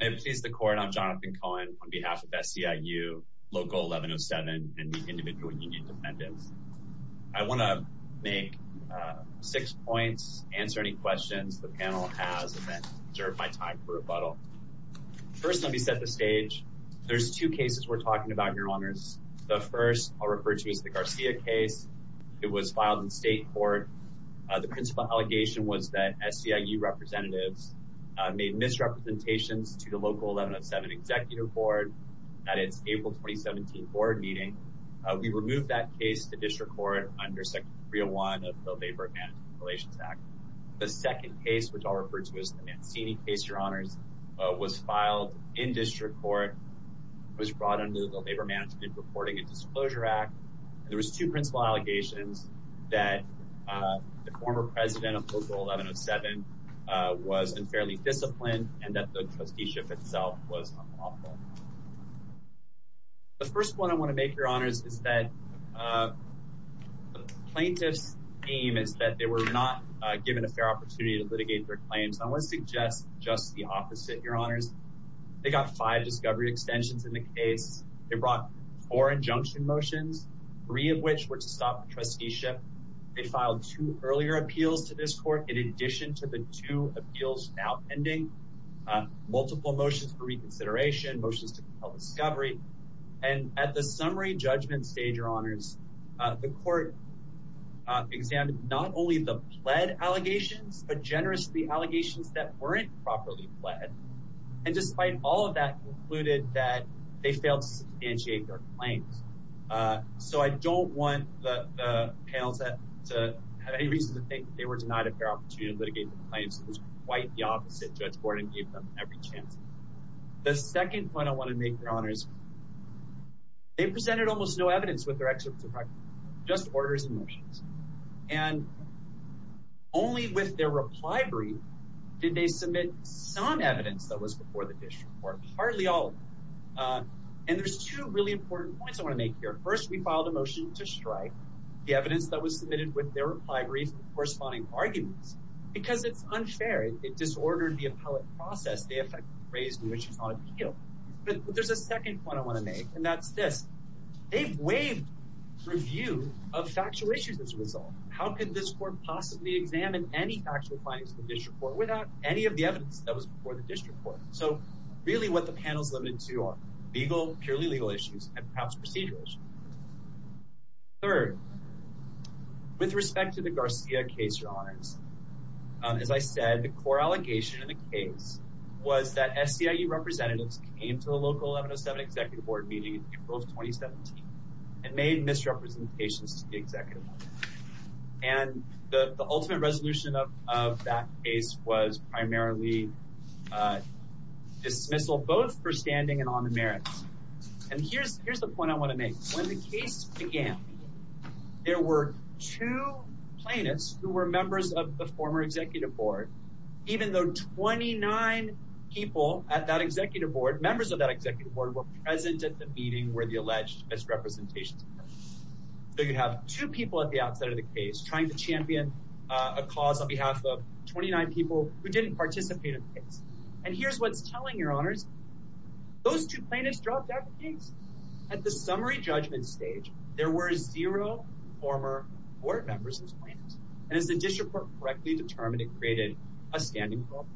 I'm Jonathan Cohen on behalf of SEIU, Local 1107, and the individual union defendants. I want to make six points, answer any questions the panel has, and then reserve my time for rebuttal. First, let me set the stage. There's two cases we're talking about, your honors. The first I'll refer to is the Garcia case. It was filed in state court. The principal allegation was that SEIU representatives made misrepresentations to the Local 1107 Executive Board at its April 2017 board meeting. We removed that case to district court under Section 301 of the Labor Management Relations Act. The second case, which I'll refer to as the Mancini case, your honors, was filed in district court, was brought under the Labor Management Reporting Disclosure Act. There was two principal allegations that the former president of Local 1107 was unfairly disciplined and that the trusteeship itself was unlawful. The first point I want to make, your honors, is that the plaintiff's aim is that they were not given a fair opportunity to litigate their claims. I want to suggest just the opposite, your honors. They got five discovery extensions in the case. They brought four injunction motions, three of which were to stop the trusteeship. They filed two earlier appeals to this court in addition to the two appeals now pending, multiple motions for reconsideration, motions to compel discovery. And at the summary judgment stage, your honors, the court examined not only the allegations that weren't properly fled, and despite all of that, concluded that they failed to substantiate their claims. So I don't want the panels to have any reason to think they were denied a fair opportunity to litigate their claims. It was quite the opposite. Judge Gordon gave them every chance. The second point I want to make, your honors, they presented almost no evidence with their executive practice, just orders and motions. And only with their reply brief did they submit some evidence that was before the district court, hardly all of it. And there's two really important points I want to make here. First, we filed a motion to strike the evidence that was submitted with their reply brief, the corresponding arguments, because it's unfair. It disordered the appellate process they effectively raised in which it's on appeal. But there's a second point I want to make, and that's this. They've waived review of factual issues as a result. How could this court possibly examine any actual findings of the district court without any of the evidence that was before the district court? So really what the panel's limited to are legal, purely legal issues, and perhaps procedural issues. Third, with respect to the Garcia case, your honors, as I said, the core executive board meeting in April of 2017 and made misrepresentations to the executive board. And the ultimate resolution of that case was primarily dismissal, both for standing and on the merits. And here's the point I want to make. When the case began, there were two plaintiffs who were members of the former executive board, even though 29 people at that executive board, members of that executive board were present at the meeting where the alleged misrepresentations occurred. So you have two people at the outset of the case trying to champion a cause on behalf of 29 people who didn't participate in the case. And here's what's telling, your honors. Those two plaintiffs dropped out of the case. At the summary judgment stage, there were zero former board members as plaintiffs. And as the district court correctly determined, it created a standing problem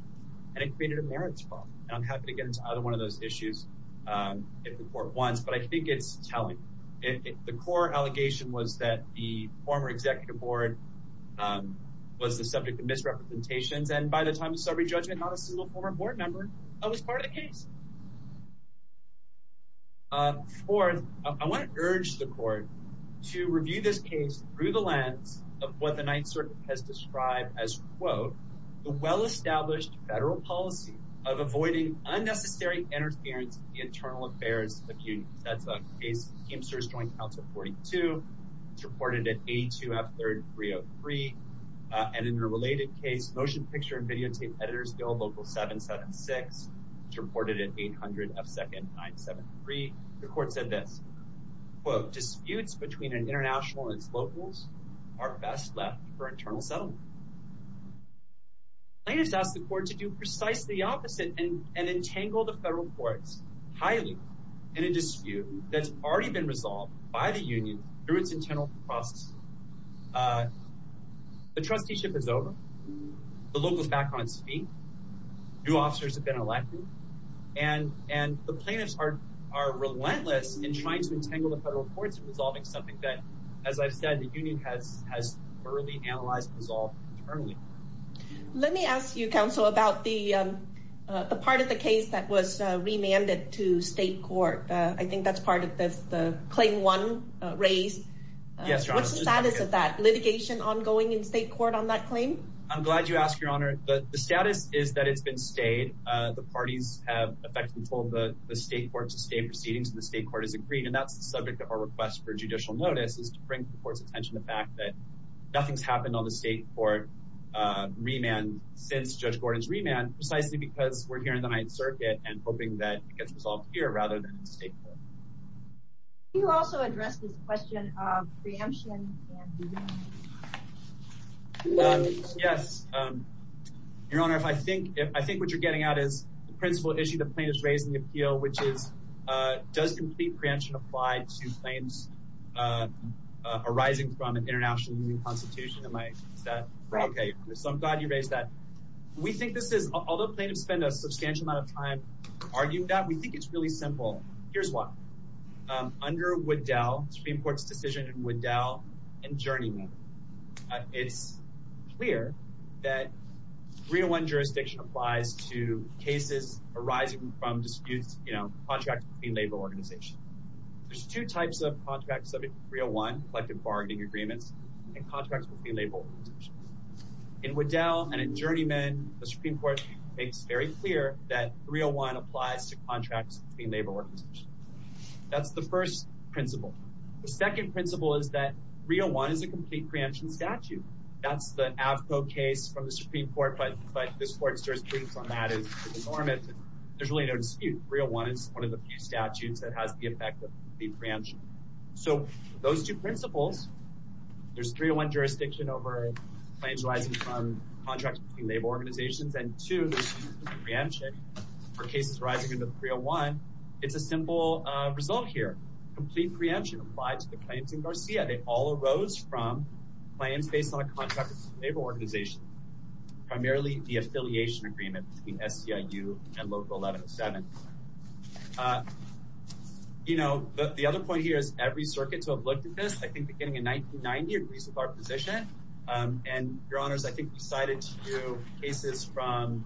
and it created a merits problem. And I'm happy to get into either one of those issues if the court wants, but I think it's telling. The core allegation was that the former executive board was the subject of misrepresentations. And by the time of summary judgment, not a single former board member was part of the case. Fourth, I want to urge the court to review this case through the lens of what the Ninth Circuit has described as, quote, the well-established federal policy of avoiding unnecessary interference in the internal affairs of unions. That's a case, Kempster's Joint Council 42. It's reported at A2F3303. And in a related case, Motion Picture and Videotape Editors Bill Local 776, it's reported at 800F2973. The court said this, quote, disputes between an international and its locals are best left for internal settlement. Plaintiffs asked the court to do precisely the opposite and entangle the federal courts highly in a dispute that's already been resolved by the union through its internal process. The trusteeship is over. The local is back on its feet. New officers have been elected. And the plaintiffs are relentless in trying to entangle the federal courts in resolving something that, as I've said, the union has already analyzed and resolved internally. Let me ask you, counsel, about the part of the case that was remanded to state court. I think that's part of the claim one raised. What's the status of that litigation ongoing in state court on that claim? I'm glad you asked, Your Honor. The status is that it's been stayed. The party effectively told the state court to stay in proceedings, and the state court has agreed. And that's the subject of our request for judicial notice, is to bring the court's attention to the fact that nothing's happened on the state court remand since Judge Gordon's remand, precisely because we're here in the Ninth Circuit and hoping that it gets resolved here rather than in state court. Can you also address this question of preemption? Yes, Your Honor. I think what you're getting at is the principle issue the plaintiff's raising in the appeal, which is, does complete preemption apply to claims arising from an international union constitution? Is that right? Okay. So I'm glad you raised that. We think this is, although plaintiffs spend a substantial amount of time arguing that, we think it's really simple. Here's why. Under Woodell, Supreme Court's Woodell and Journeymen, it's clear that 301 jurisdiction applies to cases arising from disputes, you know, contracts between labor organizations. There's two types of contracts subject to 301, collective bargaining agreements, and contracts between labor organizations. In Woodell and in Journeymen, the Supreme Court makes very clear that 301 applies to contracts between labor organizations. That's the first principle. The second principle is that 301 is a complete preemption statute. That's the Avco case from the Supreme Court, but this court's jurisprudence on that is enormous. There's really no dispute. 301 is one of the few statutes that has the effect of complete preemption. So those two principles, there's 301 jurisdiction over claims arising from contracts between labor organizations, and two, preemption for cases arising under 301. It's a simple result here. Complete preemption applied to the claims in Garcia. They all arose from plans based on a contract with a labor organization, primarily the affiliation agreement between SEIU and Local 1107. You know, the other point here is every circuit to have looked at this, I think, beginning in 1990, agrees with our position. And, Your Honors, I think we cited two cases from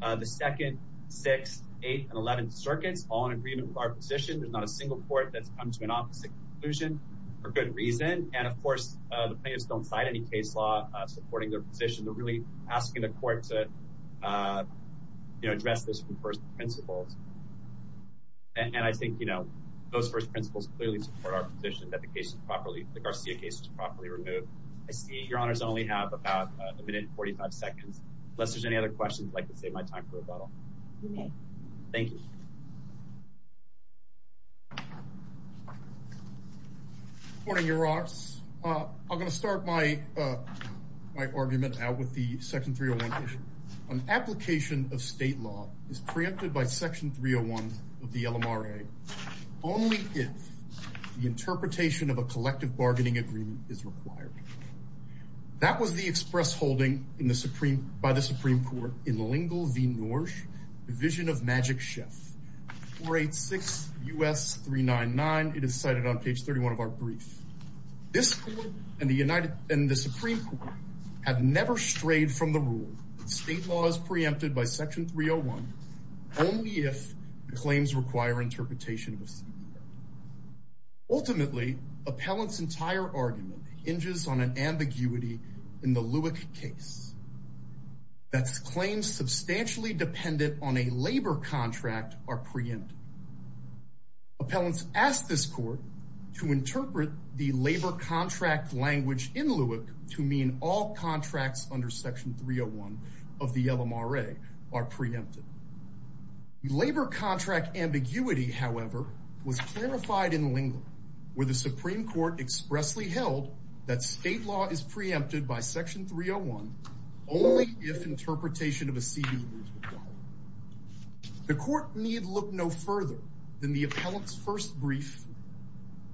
the second, sixth, eighth, and eleventh circuits, all in agreement with our position. There's not a single court that's come to an opposite conclusion for good reason. And, of course, the plaintiffs don't cite any case law supporting their position. They're really asking the court to, you know, address this from first principles. And I think, you know, those first principles clearly support our position that the case is properly, the Garcia case is properly removed. I see Your Honors only have about a minute and 45 seconds. Unless there's any other questions, I'd like to save my time for rebuttal. You may. Thank you. Good morning, Your Honors. I'm going to start my argument out with the Section 301 issue. An application of state law is preempted by Section 301 of the LMRA only if the interpretation of a collective bargaining agreement is required. That was the express holding by the Supreme Court in Lingle v. Norrish, Division of Magic Chef, 486 U.S. 399. It is cited on page 31 of our brief. This court and the Supreme Court have never strayed from the rule that state law is preempted by Section 301 only if claims require interpretation of Supreme Court. Ultimately, appellant's entire argument hinges on an ambiguity in the Lewick case. That's claims substantially dependent on a labor contract are preempted. Appellants asked this court to interpret the labor contract language in Lewick to mean all contracts under Section 301 of the LMRA are preempted. Labor contract ambiguity, however, was clarified in Lingle, where the Supreme Court expressly held that state law is preempted by Section 301 only if interpretation of a CD is required. The court need look no further than the appellant's first brief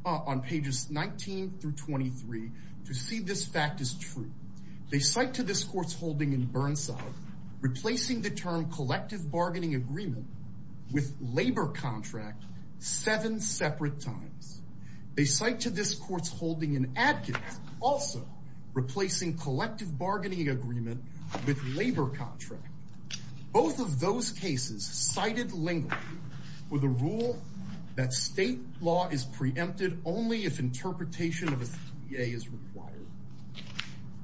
on pages 19 through 23 to see this fact is true. They cite to this court's holding in Burnside replacing the term collective bargaining agreement with labor contract seven separate times. They cite to this court's holding in Adkins also replacing collective bargaining agreement with labor contract. Both of those cases cited Lingle with a rule that state law is preempted only if interpretation of a CDA is required.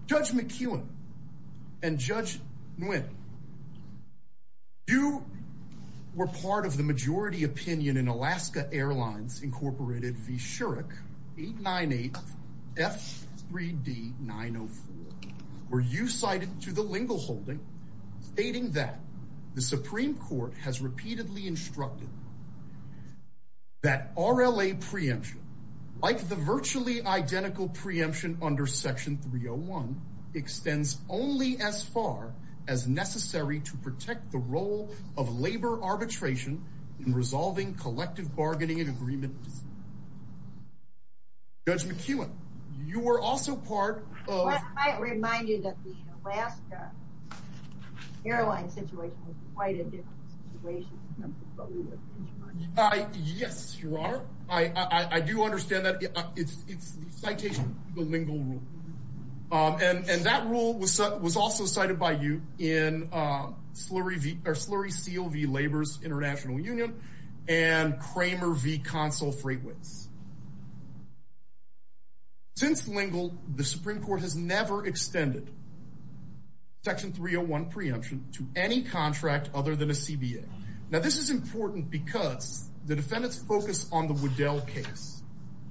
Judge McKeown and Judge Nguyen, you were part of the majority opinion in Alaska Airlines Incorporated v. Shurrock 898 F3D 904, where you cited to the Lingle holding stating that the Supreme Court has repeatedly instructed that RLA preemption, like the virtually identical preemption under Section 301, extends only as far as necessary to protect the role of labor arbitration in resolving collective bargaining agreements. Judge McKeown, you were also part of... I might remind you that the Alaska airline situation was quite a different situation. Yes, you are. I do understand that. It's the citation of the Lingle rule. And that rule was also cited by you in Slurry C.O.V. Labor's International Union and Kramer v. Consul Freightways. Since Lingle, the Supreme Court has never extended Section 301 preemption to any contract other than a CBA. Now, this is important because the defendants focus on the Waddell case.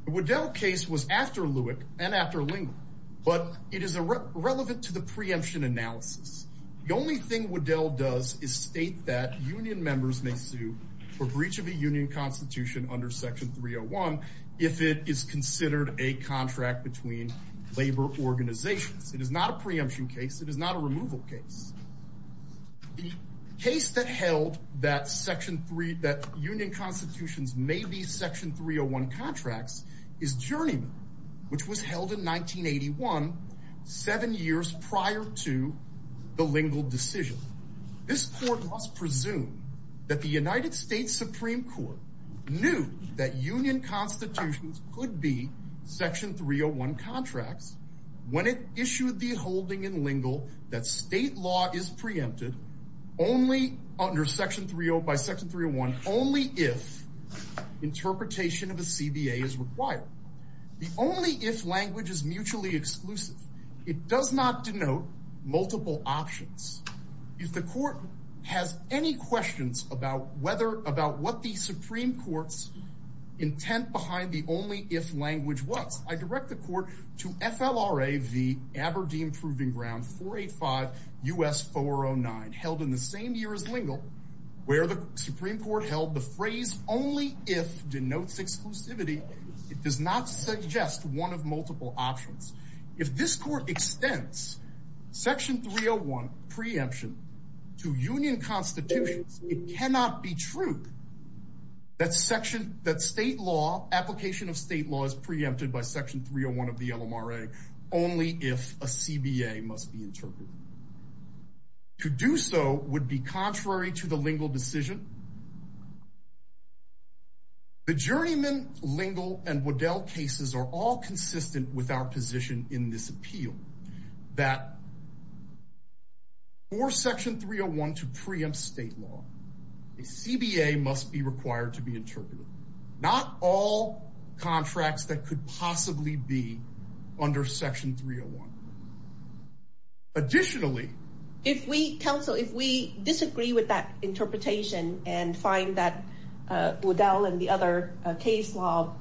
The Waddell case was after Lewick and after Lingle, but it is irrelevant to the preemption analysis. The only thing Waddell does is state that union members may sue for breach of a union constitution under Section 301 if it is considered a contract between labor organizations. It is not a preemption case. It is not a removal case. The case that held that union constitutions may be Section 301 contracts is Journeyman, which was held in 1981, seven years prior to the Lingle decision. This court must presume that the United States Supreme Court knew that union constitutions could be Section 301 contracts when it issued the holding in Lingle that state law is preempted only under Section 301 by Section 301. The only if language is mutually exclusive. It does not denote multiple options. If the court has any questions about what the Supreme Court's intent behind the only if language was, I direct the court to FLRA v. Aberdeen Proving Ground 485 U.S. 409, held in the same year as one of multiple options. If this court extends Section 301 preemption to union constitutions, it cannot be true that application of state law is preempted by Section 301 of the LMRA only if a CBA must be interpreted. To do so would be contrary to the Lingle decision. The Journeyman, Lingle, and Waddell cases are all consistent with our position in this appeal that for Section 301 to preempt state law, a CBA must be required to be interpreted. Not all contracts that could possibly be under Section 301. Additionally, if we counsel, if we disagree with that interpretation and find that Waddell and the other case law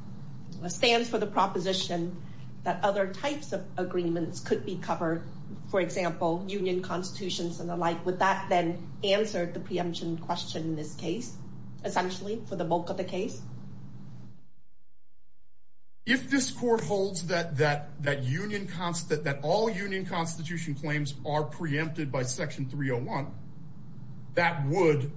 stands for the proposition that other types of agreements could be covered, for example, union constitutions and the like, would that then answer the preemption question in this case, essentially for the bulk of the case? If this court holds that all union constitution claims are preempted by Section 301, that would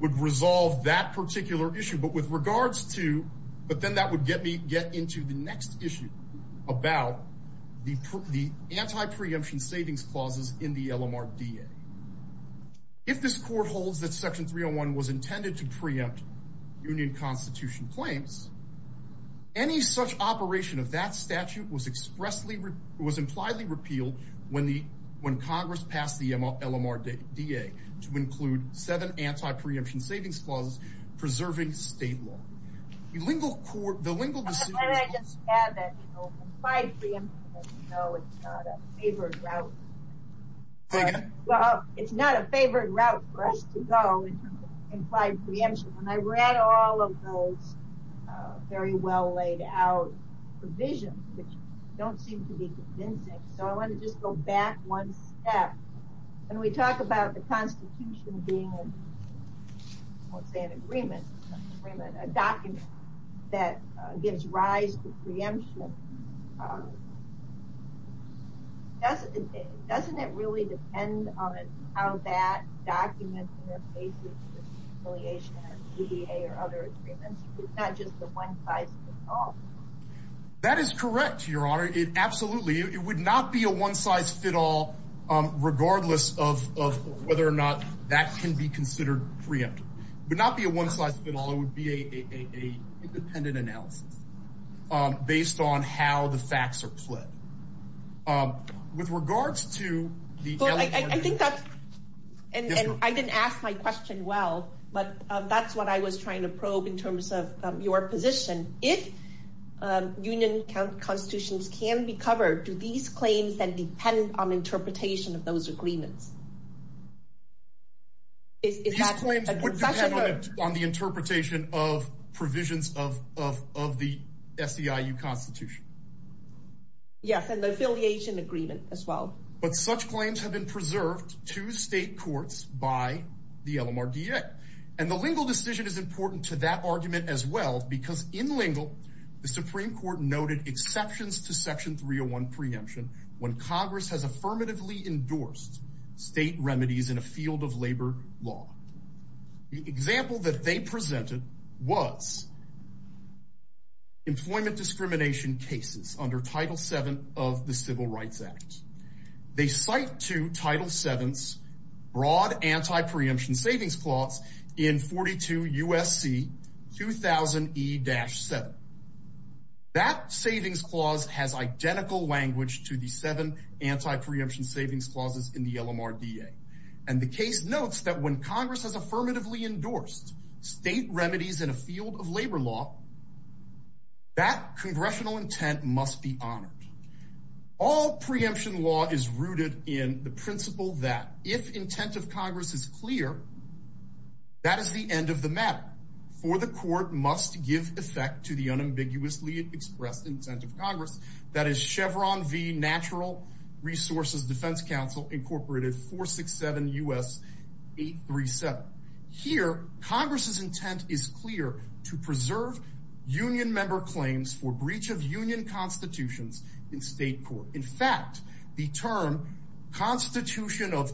resolve that particular issue. But with regards to, but then that would get me get into the next issue about the anti-preemption savings clauses in the LMRDA. If this court holds that Section 301 was intended to preempt union constitution claims, any such operation of that statute was expressly, was impliedly repealed when Congress passed the LMRDA to include seven anti-preemption savings clauses preserving state law. The Lingle court, the Lingle decision. I just add that, you know, implied preemption, you know, it's not a favored route. Well, it's not a favored route for us to go in terms of implied preemption. And I read all of those very well laid out provisions, which don't seem to be convincing. So I want to just go back one step. When we talk about the constitution being, I won't say an agreement, a document that gives rise to preemption. Doesn't it really depend on how that document interfaces with conciliation or DDA or other agreements? It's not just a one size fits all. That is correct, Your Honor. It absolutely, it would not be a one size fit all, regardless of whether or not that can be considered preempted. It would not be a independent analysis based on how the facts are put. With regards to the LMRDA. I think that's, and I didn't ask my question well, but that's what I was trying to probe in terms of your position. If union constitutions can be covered, do these claims then depend on interpretation of those agreements? These claims would depend on the interpretation of provisions of the SEIU constitution. Yes, and the affiliation agreement as well. But such claims have been preserved to state courts by the LMRDA. And the Lingle decision is important to that argument as well, because in Lingle, the Supreme Court noted exceptions to section 301 preemption when Congress has affirmatively endorsed state remedies in a field that includes employment discrimination cases under Title VII of the Civil Rights Act. They cite to Title VII's broad anti-preemption savings clause in 42 U.S.C. 2000 E-7. That savings clause has identical language to the seven anti-preemption savings clauses in the LMRDA. And the case notes that when Congress has affirmatively endorsed state remedies in a field of labor law, that congressional intent must be honored. All preemption law is rooted in the principle that if intent of Congress is clear, that is the end of the matter, for the court must give effect to the unambiguously expressed intent of Congress. That is Chevron v. Natural Resources Defense Council, incorporated 467 U.S. 837. Here, Congress's intent is clear to preserve union member claims for breach of union constitutions in state court. In fact, the term constitution of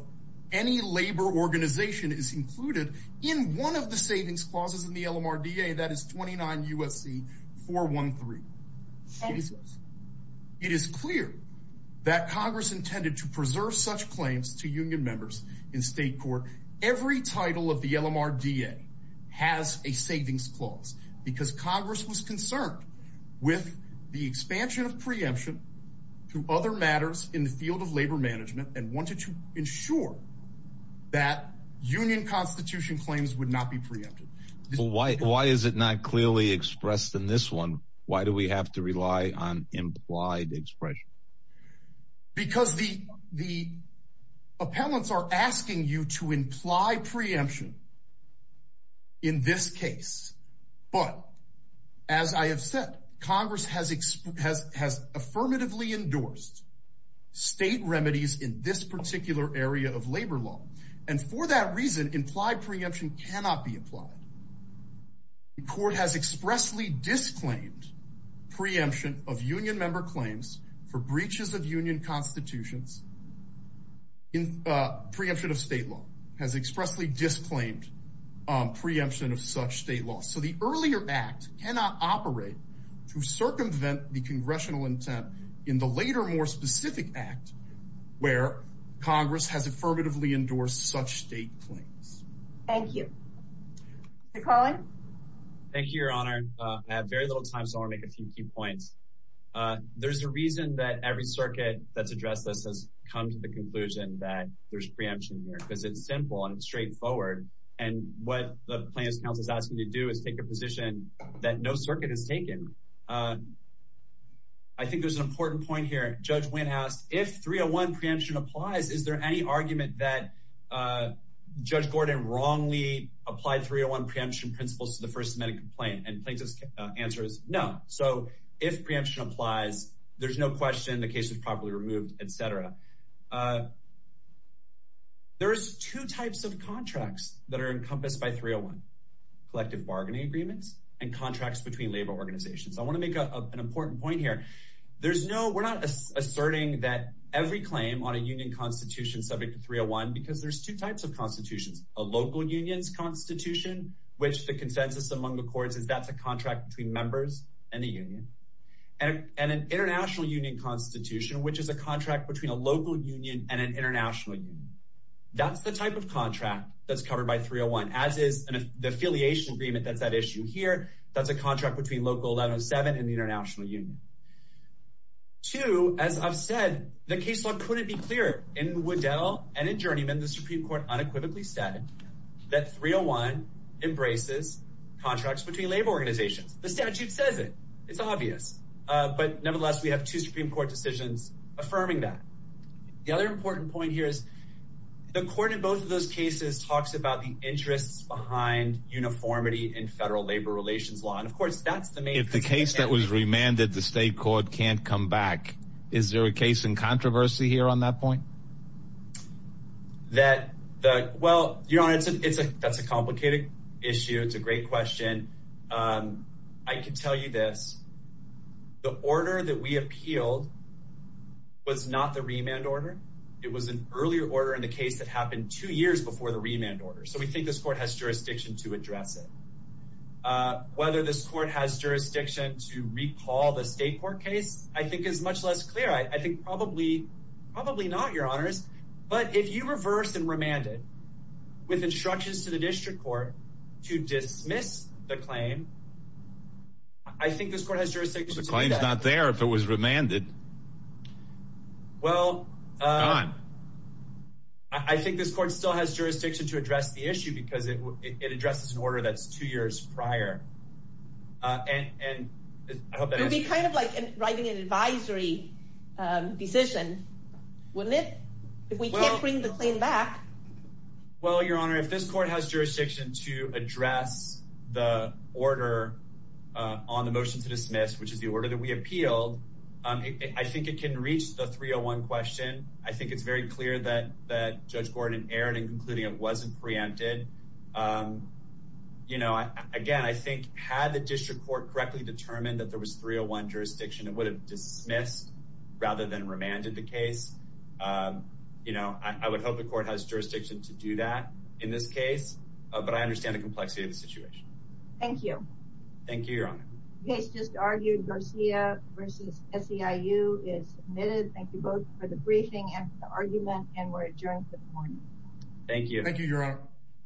any labor organization is included in one of the savings clauses in the LMRDA, that is 29 U.S.C. 413. It is clear that Congress intended to preserve such claims to union members in state court. Every title of the LMRDA has a savings clause because Congress was concerned with the expansion of preemption to other matters in the field of labor management and wanted to ensure that union constitution claims would not be preempted. Why is it not clearly expressed in this one? Why do we have to rely on implied expression? Because the appellants are asking you to imply preemption in this case. But as I have said, Congress has affirmatively endorsed state remedies in this particular area of labor law. And for that reason, implied preemption cannot be applied. The court has expressly disclaimed preemption of union member claims for breaches of union constitutions. Preemption of state law has expressly disclaimed preemption of such state law. So the earlier act cannot operate to circumvent the congressional intent in the later, more specific act where Congress has affirmatively endorsed such state claims. Thank you. Mr. Cullen? Thank you, Your Honor. I have very little time, so I want to make a few key points. There's a reason that every circuit that's addressed this has come to the conclusion that there's preemption here, because it's simple and straightforward. And what the plaintiff's counsel is asking you to do is take a position that no circuit has taken. I think there's an important point here. Judge Wynn asked, if 301 preemption applies, is there any argument that Judge Gordon wrongly applied 301 preemption principles to the first semantic complaint? And plaintiff's answer is no. So if preemption applies, there's no question the case is properly removed, etc. There's two types of contracts that are encompassed by 301, collective bargaining agreements and contracts between labor organizations. I want to make an important point here. We're not asserting that every claim on a union constitution subject to 301, because there's two types of constitutions, a local unions constitution, which the consensus among the courts is that's a contract between members and the union, and an international union constitution, which is a contract between a local union and an international union. That's the type of contract that's covered by 301, as is the affiliation agreement that's at issue here. That's a contract between local 1107 and the case law couldn't be clearer. In Waddell and in Journeyman, the Supreme Court unequivocally said that 301 embraces contracts between labor organizations. The statute says it. It's obvious. But nevertheless, we have two Supreme Court decisions affirming that. The other important point here is the court in both of those cases talks about the interests behind uniformity in federal labor relations law. And of course, that's the main... If the case that was remanded the state can't come back, is there a case in controversy here on that point? That, well, Your Honor, that's a complicated issue. It's a great question. I can tell you this. The order that we appealed was not the remand order. It was an earlier order in the case that happened two years before the remand order. So we think this court has jurisdiction to address it. Whether this court has jurisdiction to recall the state court case, I think, is much less clear. I think probably not, Your Honors. But if you reverse and remand it with instructions to the district court to dismiss the claim, I think this court has jurisdiction to do that. The claim's not there if it was remanded. Well, I think this court still has jurisdiction to address the issue because it is not there. It would be kind of like writing an advisory decision, wouldn't it? If we can't bring the claim back. Well, Your Honor, if this court has jurisdiction to address the order on the motion to dismiss, which is the order that we appealed, I think it can reach the 301 question. I think it's very clear that Judge Gordon erred in concluding it wasn't preempted. Again, I think had the district court correctly determined that there was 301 jurisdiction, it would have dismissed rather than remanded the case. I would hope the court has jurisdiction to do that in this case, but I understand the complexity of the situation. Thank you. Thank you, Your Honor. The case just argued, Garcia v. SEIU is submitted. Thank you both for the briefing and for the argument, and we're adjourned for the morning. Thank you. Thank you, Your Honor.